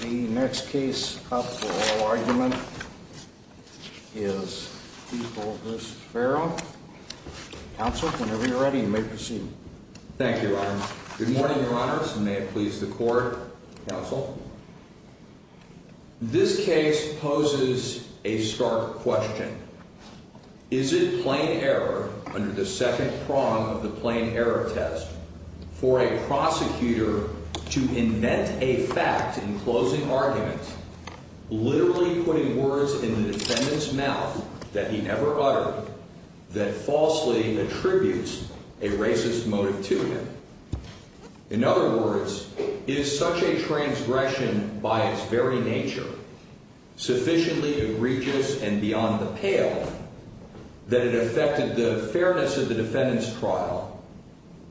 The next case up for oral argument is Epaul v. Ferrell. Counsel, whenever you're ready, you may proceed. Thank you, Your Honor. Good morning, Your Honors, and may it please the Court, Counsel. This case poses a stark question. Is it plain error, under the second prong of the plain error test, for a prosecutor to invent a fact in closing argument, literally putting words in the defendant's mouth that he never uttered, that falsely attributes a racist motive to him? In other words, is such a transgression by its very nature, sufficiently egregious and beyond the pale, that it affected the fairness of the defendant's trial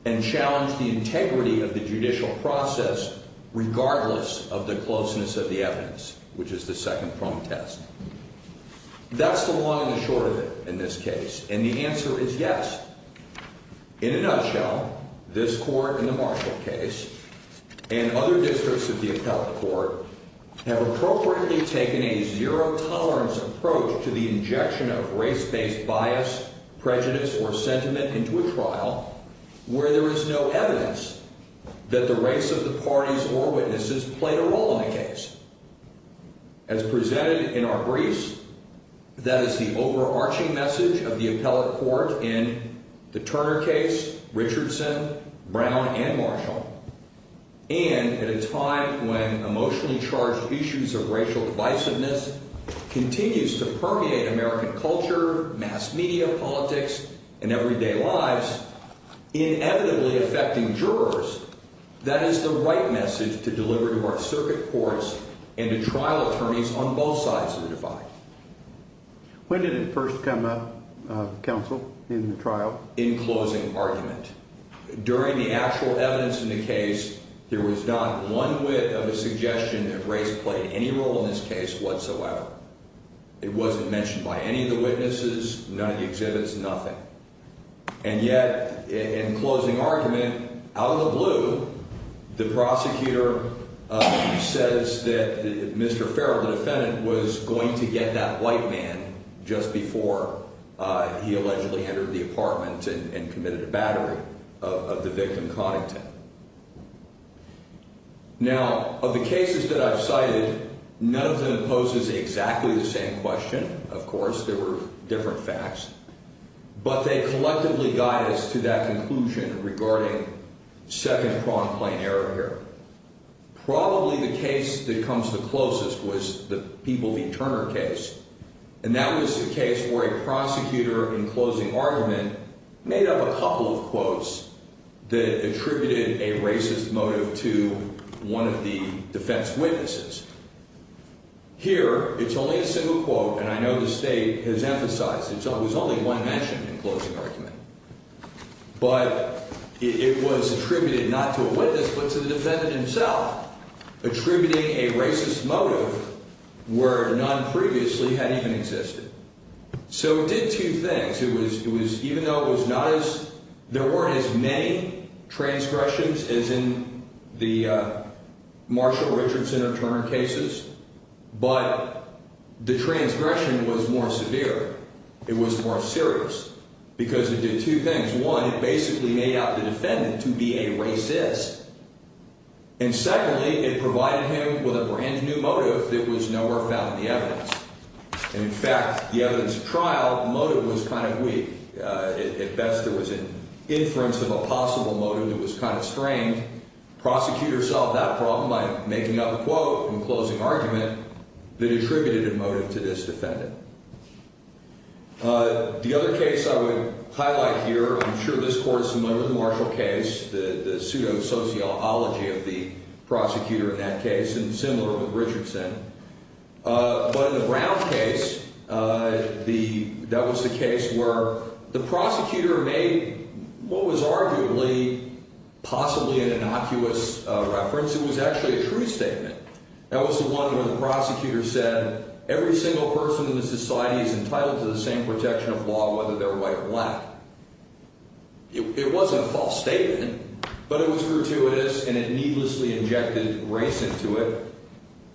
and challenged the integrity of the judicial process regardless of the closeness of the evidence, which is the second prong test? That's the long and the short of it in this case, and the answer is yes. In a nutshell, this Court in the Marshall case and other districts of the appellate court have appropriately taken a zero-tolerance approach to the injection of race-based bias, prejudice, or sentiment into a trial where there is no evidence that the race of the parties or witnesses played a role in the case. As presented in our briefs, that is the overarching message of the appellate court in the Turner case, Richardson, Brown, and Marshall. And at a time when emotionally charged issues of racial divisiveness continues to permeate American culture, mass media, politics, and everyday lives, inevitably affecting jurors, that is the right message to deliver to our circuit courts and to trial attorneys on both sides of the divide. When did it first come up, counsel, in the trial? In closing argument. During the actual evidence in the case, there was not one whit of a suggestion that race played any role in this case whatsoever. It wasn't mentioned by any of the witnesses, none of the exhibits, nothing. And yet, in closing argument, out of the blue, the prosecutor says that Mr. Farrell, the defendant, was going to get that white man just before he allegedly entered the apartment and committed a battery of the victim, Coddington. Now, of the cases that I've cited, none of them poses exactly the same question. Of course, there were different facts. But they collectively guide us to that conclusion regarding second-pronged plain error here. Probably the case that comes the closest was the People v. Turner case. And that was the case where a prosecutor, in closing argument, made up a couple of quotes that attributed a racist motive to one of the defense witnesses. Here, it's only a single quote, and I know the state has emphasized it. It was only one mentioned in closing argument. But it was attributed not to a witness but to the defendant himself, attributing a racist motive where none previously had even existed. So it did two things. There weren't as many transgressions as in the Marshall-Richardson or Turner cases, but the transgression was more severe. It was more serious because it did two things. One, it basically made out the defendant to be a racist. And secondly, it provided him with a brand-new motive that was nowhere found in the evidence. And, in fact, the evidence trial motive was kind of weak. At best, there was an inference of a possible motive that was kind of strained. Prosecutors solved that problem by making up a quote in closing argument that attributed a motive to this defendant. The other case I would highlight here, I'm sure this court is familiar with the Marshall case, the pseudo-sociology of the prosecutor in that case, and similar with Richardson. But in the Brown case, that was the case where the prosecutor made what was arguably possibly an innocuous reference. It was actually a true statement. That was the one where the prosecutor said, every single person in this society is entitled to the same protection of law, whether they're white or black. It wasn't a false statement, but it was gratuitous, and it needlessly injected race into it.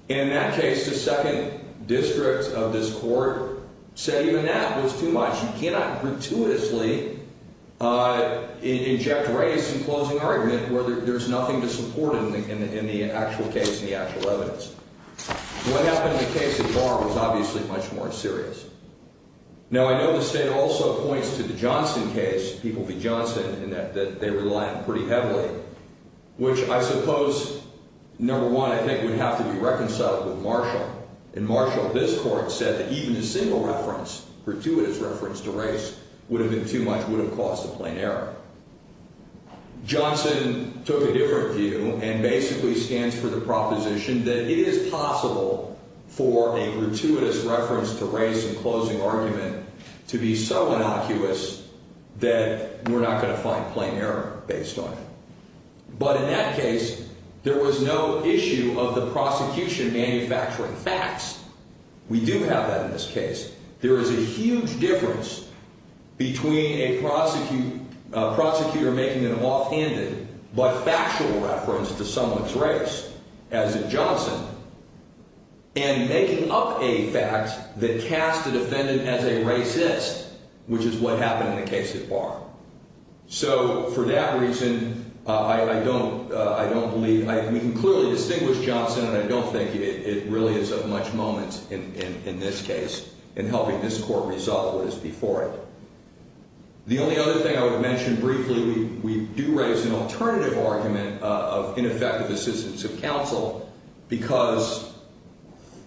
And in that case, the second district of this court said even that was too much. You cannot gratuitously inject race in closing argument where there's nothing to support in the actual case and the actual evidence. What happened in the case of Barr was obviously much more serious. Now, I know the state also points to the Johnson case, People v. Johnson, in that they rely on it pretty heavily, which I suppose, number one, I think would have to be reconciled with Marshall. In Marshall, this court said that even a single reference, gratuitous reference to race, would have been too much, would have caused a plain error. But in that case, there was no issue of the prosecution manufacturing facts. We do have that in this case. There is a huge difference between a prosecutor making an offhanded but factual reference to someone's race, as in Johnson, and making up a fact that cast the defendant as a racist, which is what happened in the case of Barr. So, for that reason, I don't, I don't believe, we can clearly distinguish Johnson, and I don't think it really is of much moment in this case in helping this court resolve what is before it. The only other thing I would mention briefly, we do raise an alternative argument of ineffective assistance of counsel because,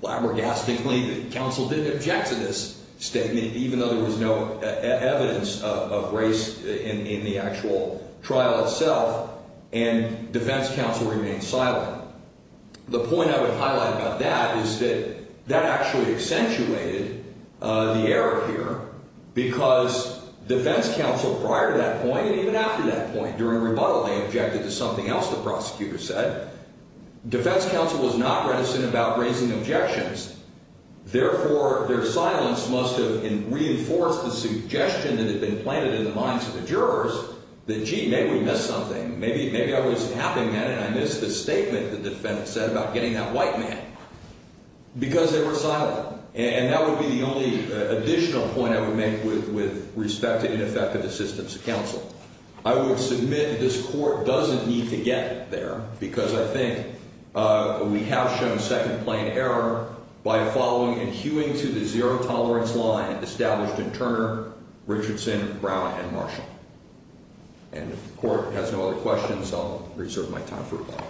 well, abrogastically, the counsel didn't object to this statement, even though there was no evidence of race in the actual trial itself, and defense counsel remained silent. The point I would highlight about that is that that actually accentuated the error here because defense counsel, prior to that point, and even after that point, during rebuttal, they objected to something else the prosecutor said. Defense counsel was not reticent about raising objections. Therefore, their silence must have reinforced the suggestion that had been planted in the minds of the jurors that, gee, maybe we missed something. Maybe, maybe I was tapping in and I missed the statement the defendant said about getting that white man. Because they were silent. And that would be the only additional point I would make with respect to ineffective assistance of counsel. I would submit this court doesn't need to get there because I think we have shown second-plane error by following and hewing to the zero-tolerance line established in Turner, Richardson, Brown, and Marshall. And if the court has no other questions, I'll reserve my time for rebuttal.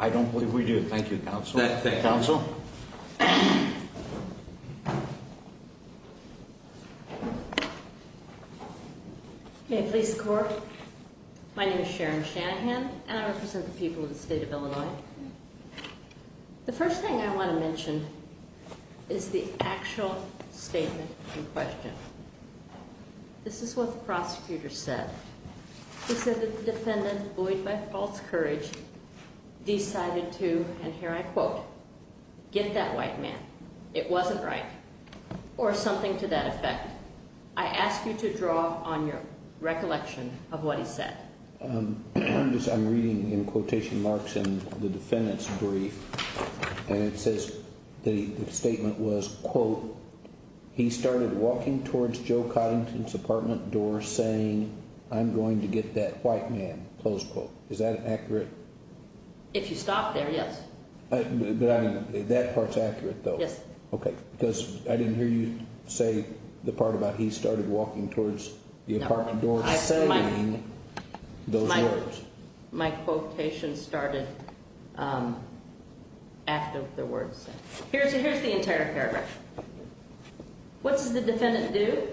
I don't believe we do. Thank you, counsel. Thank you. Counsel? May it please the court? My name is Sharon Shanahan, and I represent the people of the state of Illinois. The first thing I want to mention is the actual statement in question. This is what the prosecutor said. He said that the defendant, buoyed by false courage, decided to, and here I quote, get that white man. It wasn't right. Or something to that effect. I ask you to draw on your recollection of what he said. I'm reading in quotation marks in the defendant's brief, and it says the statement was, quote, he started walking towards Joe Coddington's apartment door saying, I'm going to get that white man, close quote. Is that accurate? If you stop there, yes. That part's accurate, though. Yes. Okay, because I didn't hear you say the part about he started walking towards the apartment door saying those words. My quotation started after the words. Here's the entire paragraph. What does the defendant do?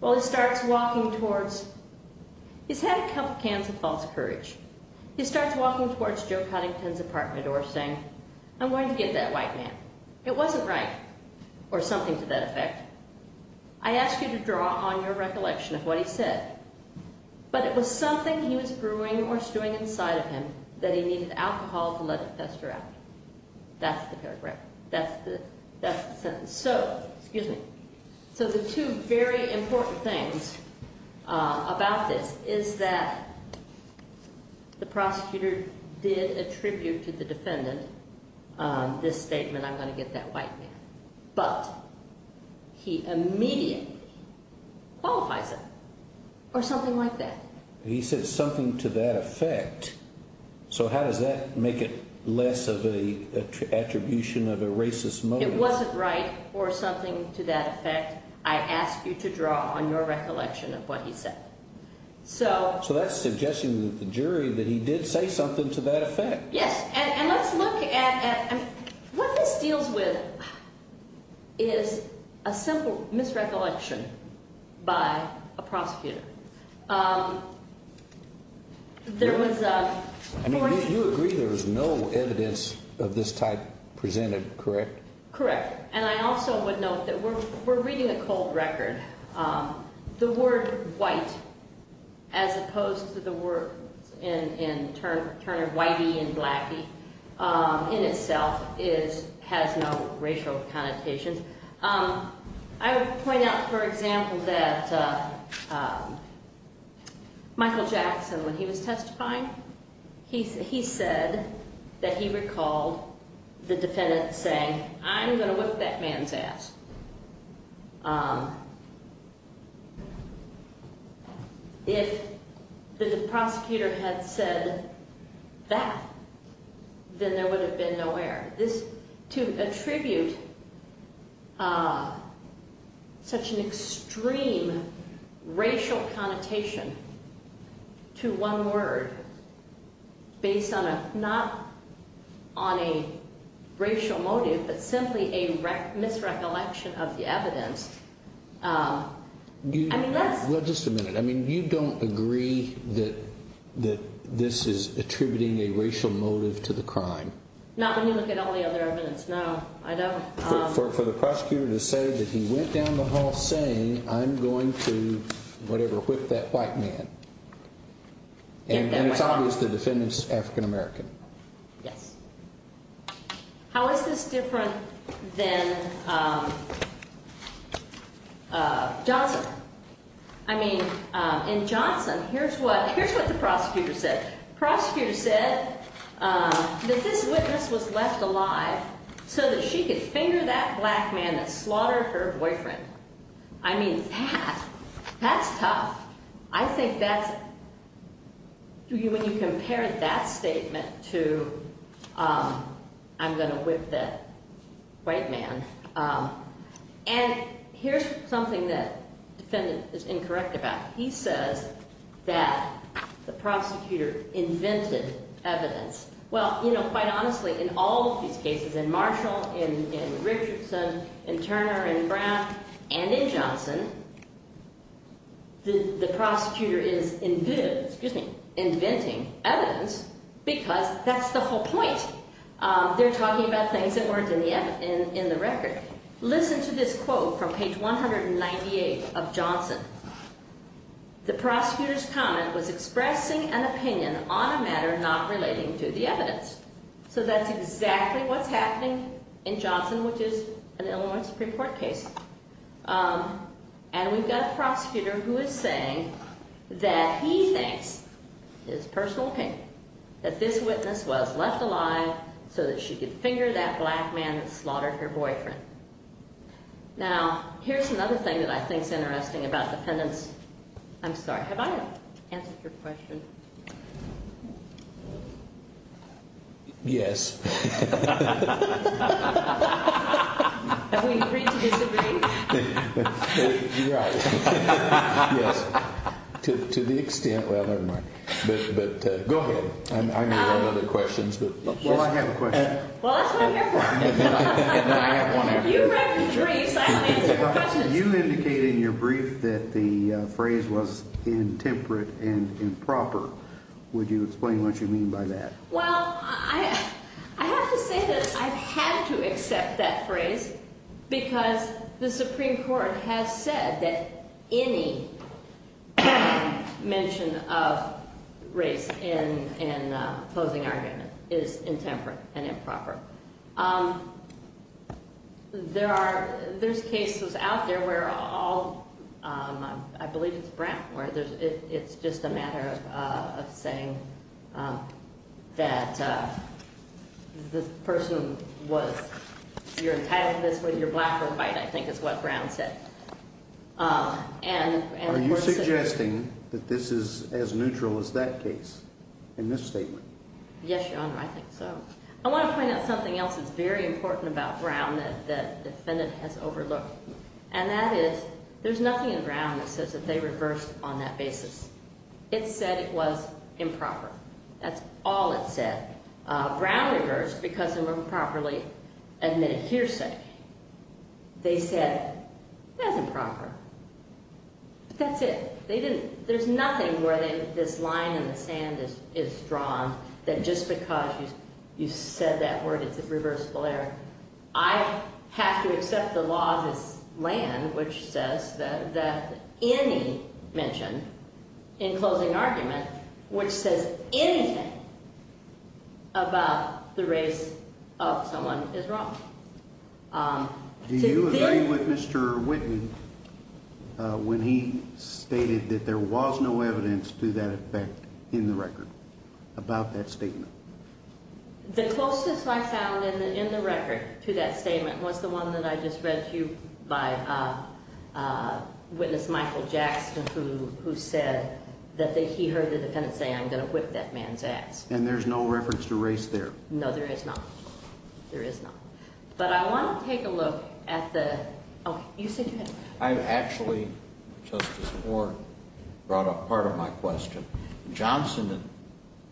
Well, he starts walking towards, he's had a couple cans of false courage. He starts walking towards Joe Coddington's apartment door saying, I'm going to get that white man. It wasn't right. Or something to that effect. I ask you to draw on your recollection of what he said. But it was something he was brewing or stewing inside of him that he needed alcohol to let it fester out. That's the sentence. So, excuse me. So the two very important things about this is that the prosecutor did attribute to the defendant this statement, I'm going to get that white man. But he immediately qualifies it. Or something like that. He said something to that effect. So how does that make it less of an attribution of a racist motive? It wasn't right. Or something to that effect. I ask you to draw on your recollection of what he said. So that's suggesting to the jury that he did say something to that effect. Yes. And let's look at, what this deals with is a simple misrecollection by a prosecutor. You agree there was no evidence of this type presented, correct? Correct. And I also would note that we're reading a cold record. The word white, as opposed to the words in Turner, whitey and blacky, in itself has no racial connotation. I would point out, for example, that Michael Jackson, when he was testifying, he said that he recalled the defendant saying, I'm going to whip that man's ass. If the prosecutor had said that, then there would have been no error. To attribute such an extreme racial connotation to one word, based not on a racial motive, but simply a misrecollection of the evidence, I mean, let's... Well, just a minute. I mean, you don't agree that this is attributing a racial motive to the crime? Not when you look at all the other evidence. No, I don't. For the prosecutor to say that he went down the hall saying, I'm going to, whatever, whip that white man. And it's obvious the defendant's African American. Yes. How is this different than Johnson? I mean, in Johnson, here's what the prosecutor said. The prosecutor said that this witness was left alive so that she could finger that black man that slaughtered her boyfriend. I mean, that, that's tough. I think that's, when you compare that statement to, I'm going to whip that white man. And here's something that the defendant is incorrect about. He says that the prosecutor invented evidence. Well, you know, quite honestly, in all of these cases, in Marshall, in Richardson, in Turner, in Brown, and in Johnson, the prosecutor is inventing evidence because that's the whole point. They're talking about things that weren't in the record. Listen to this quote from page 198 of Johnson. The prosecutor's comment was expressing an opinion on a matter not relating to the evidence. So that's exactly what's happening in Johnson, which is an Illinois Supreme Court case. And we've got a prosecutor who is saying that he thinks, his personal opinion, that this witness was left alive so that she could finger that black man that slaughtered her boyfriend. Now, here's another thing that I think is interesting about defendants. I'm sorry, have I answered your question? Yes. Have we agreed to this debate? You're right. Yes. To the extent, well, never mind. But go ahead. I know you have other questions. Well, I have a question. Well, that's what I'm here for. If you write the briefs, I'll answer the questions. You indicated in your brief that the phrase was intemperate and improper. Would you explain what you mean by that? Well, I have to say that I've had to accept that phrase because the Supreme Court has said that any mention of race in opposing argument is intemperate and improper. There are, there's cases out there where all, I believe it's Brown, where it's just a matter of saying that the person was, you're entitled to this whether you're black or white, I think is what Brown said. Are you suggesting that this is as neutral as that case in this statement? Yes, Your Honor, I think so. I want to point out something else that's very important about Brown that the defendant has overlooked, and that is there's nothing in Brown that says that they reversed on that basis. It said it was improper. That's all it said. Brown reversed because they were improperly admitted hearsay. They said it was improper. That's it. They didn't, there's nothing where this line in the sand is drawn that just because you said that word, it's a reversible error. I have to accept the law of this land, which says that any mention in closing argument, which says anything about the race of someone is wrong. Do you agree with Mr. Whitten when he stated that there was no evidence to that effect in the record about that statement? The closest I found in the record to that statement was the one that I just read to you by witness Michael Jackson, who said that he heard the defendant say, I'm going to whip that man's ass. And there's no reference to race there? No, there is not. There is not. But I want to take a look at the, oh, you said you had. I actually, Justice Moore, brought up part of my question. Johnson,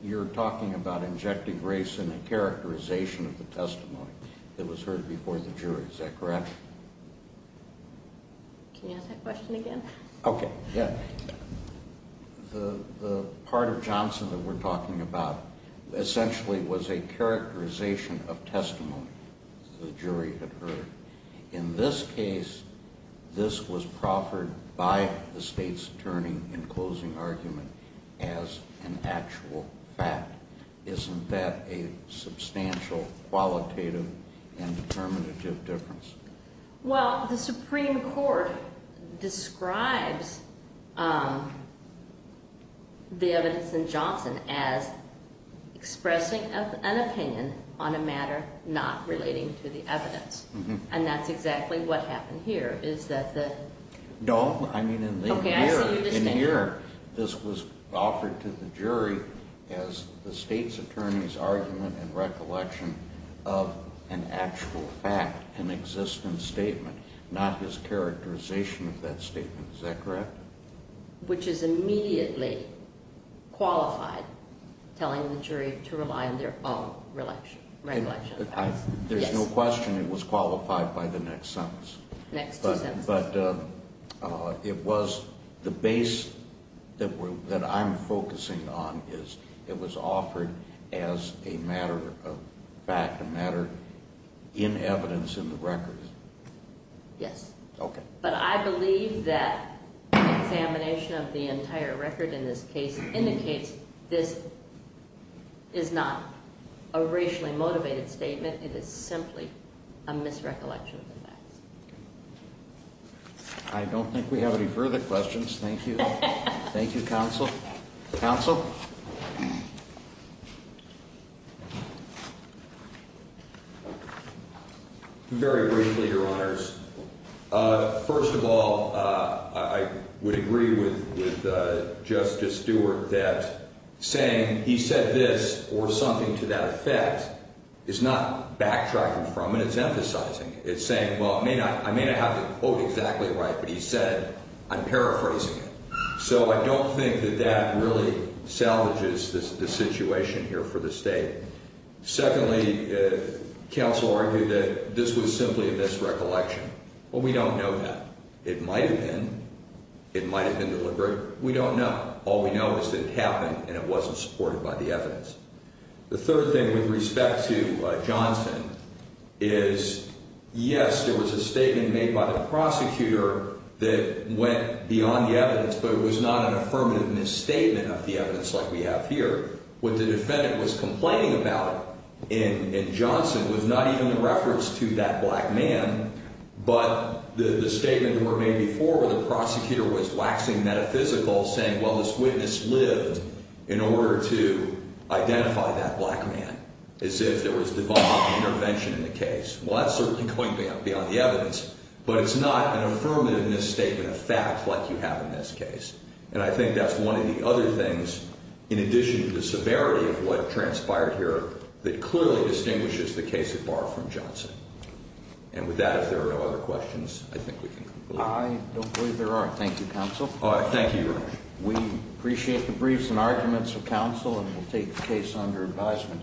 you're talking about injecting race in a characterization of the testimony that was heard before the jury. Is that correct? Can you ask that question again? Okay, yeah. The part of Johnson that we're talking about essentially was a characterization of testimony the jury had heard. In this case, this was proffered by the state's attorney in closing argument as an actual fact. Isn't that a substantial, qualitative, and determinative difference? Well, the Supreme Court describes the evidence in Johnson as expressing an opinion on a matter not relating to the evidence. And that's exactly what happened here. Is that the? No, I mean in here, this was offered to the jury as the state's attorney's argument and recollection of an actual fact, an existing statement, not his characterization of that statement. Is that correct? Which is immediately qualified, telling the jury to rely on their own recollection. There's no question it was qualified by the next sentence. Next two sentences. But it was the base that I'm focusing on is it was offered as a matter of fact, a matter in evidence in the record. But I believe that examination of the entire record in this case indicates this is not a racially motivated statement. It is simply a misrecollection of the facts. I don't think we have any further questions. Thank you. Thank you, counsel. Counsel? Very briefly, Your Honors. First of all, I would agree with Justice Stewart that saying he said this or something to that effect is not backtracking from it. It's emphasizing it. It's saying, well, I may not have the quote exactly right, but he said, I'm paraphrasing it. So I don't think that that really salvages the situation here for the state. Secondly, counsel argued that this was simply a misrecollection. Well, we don't know that. It might have been. It might have been deliberate. We don't know. All we know is that it happened and it wasn't supported by the evidence. The third thing with respect to Johnson is, yes, there was a statement made by the prosecutor that went beyond the evidence, but it was not an affirmative misstatement of the evidence like we have here. What the defendant was complaining about in Johnson was not even in reference to that black man, but the statement that were made before where the prosecutor was waxing metaphysical, saying, well, this witness lived in order to identify that black man, as if there was divine intervention in the case. Well, that's certainly going beyond the evidence, but it's not an affirmative misstatement of fact like you have in this case. And I think that's one of the other things, in addition to the severity of what transpired here, that clearly distinguishes the case of Barr from Johnson. And with that, if there are no other questions, I think we can conclude. I don't believe there are. Thank you, counsel. Thank you, Your Honor. We appreciate the briefs and arguments of counsel and will take the case under advisement.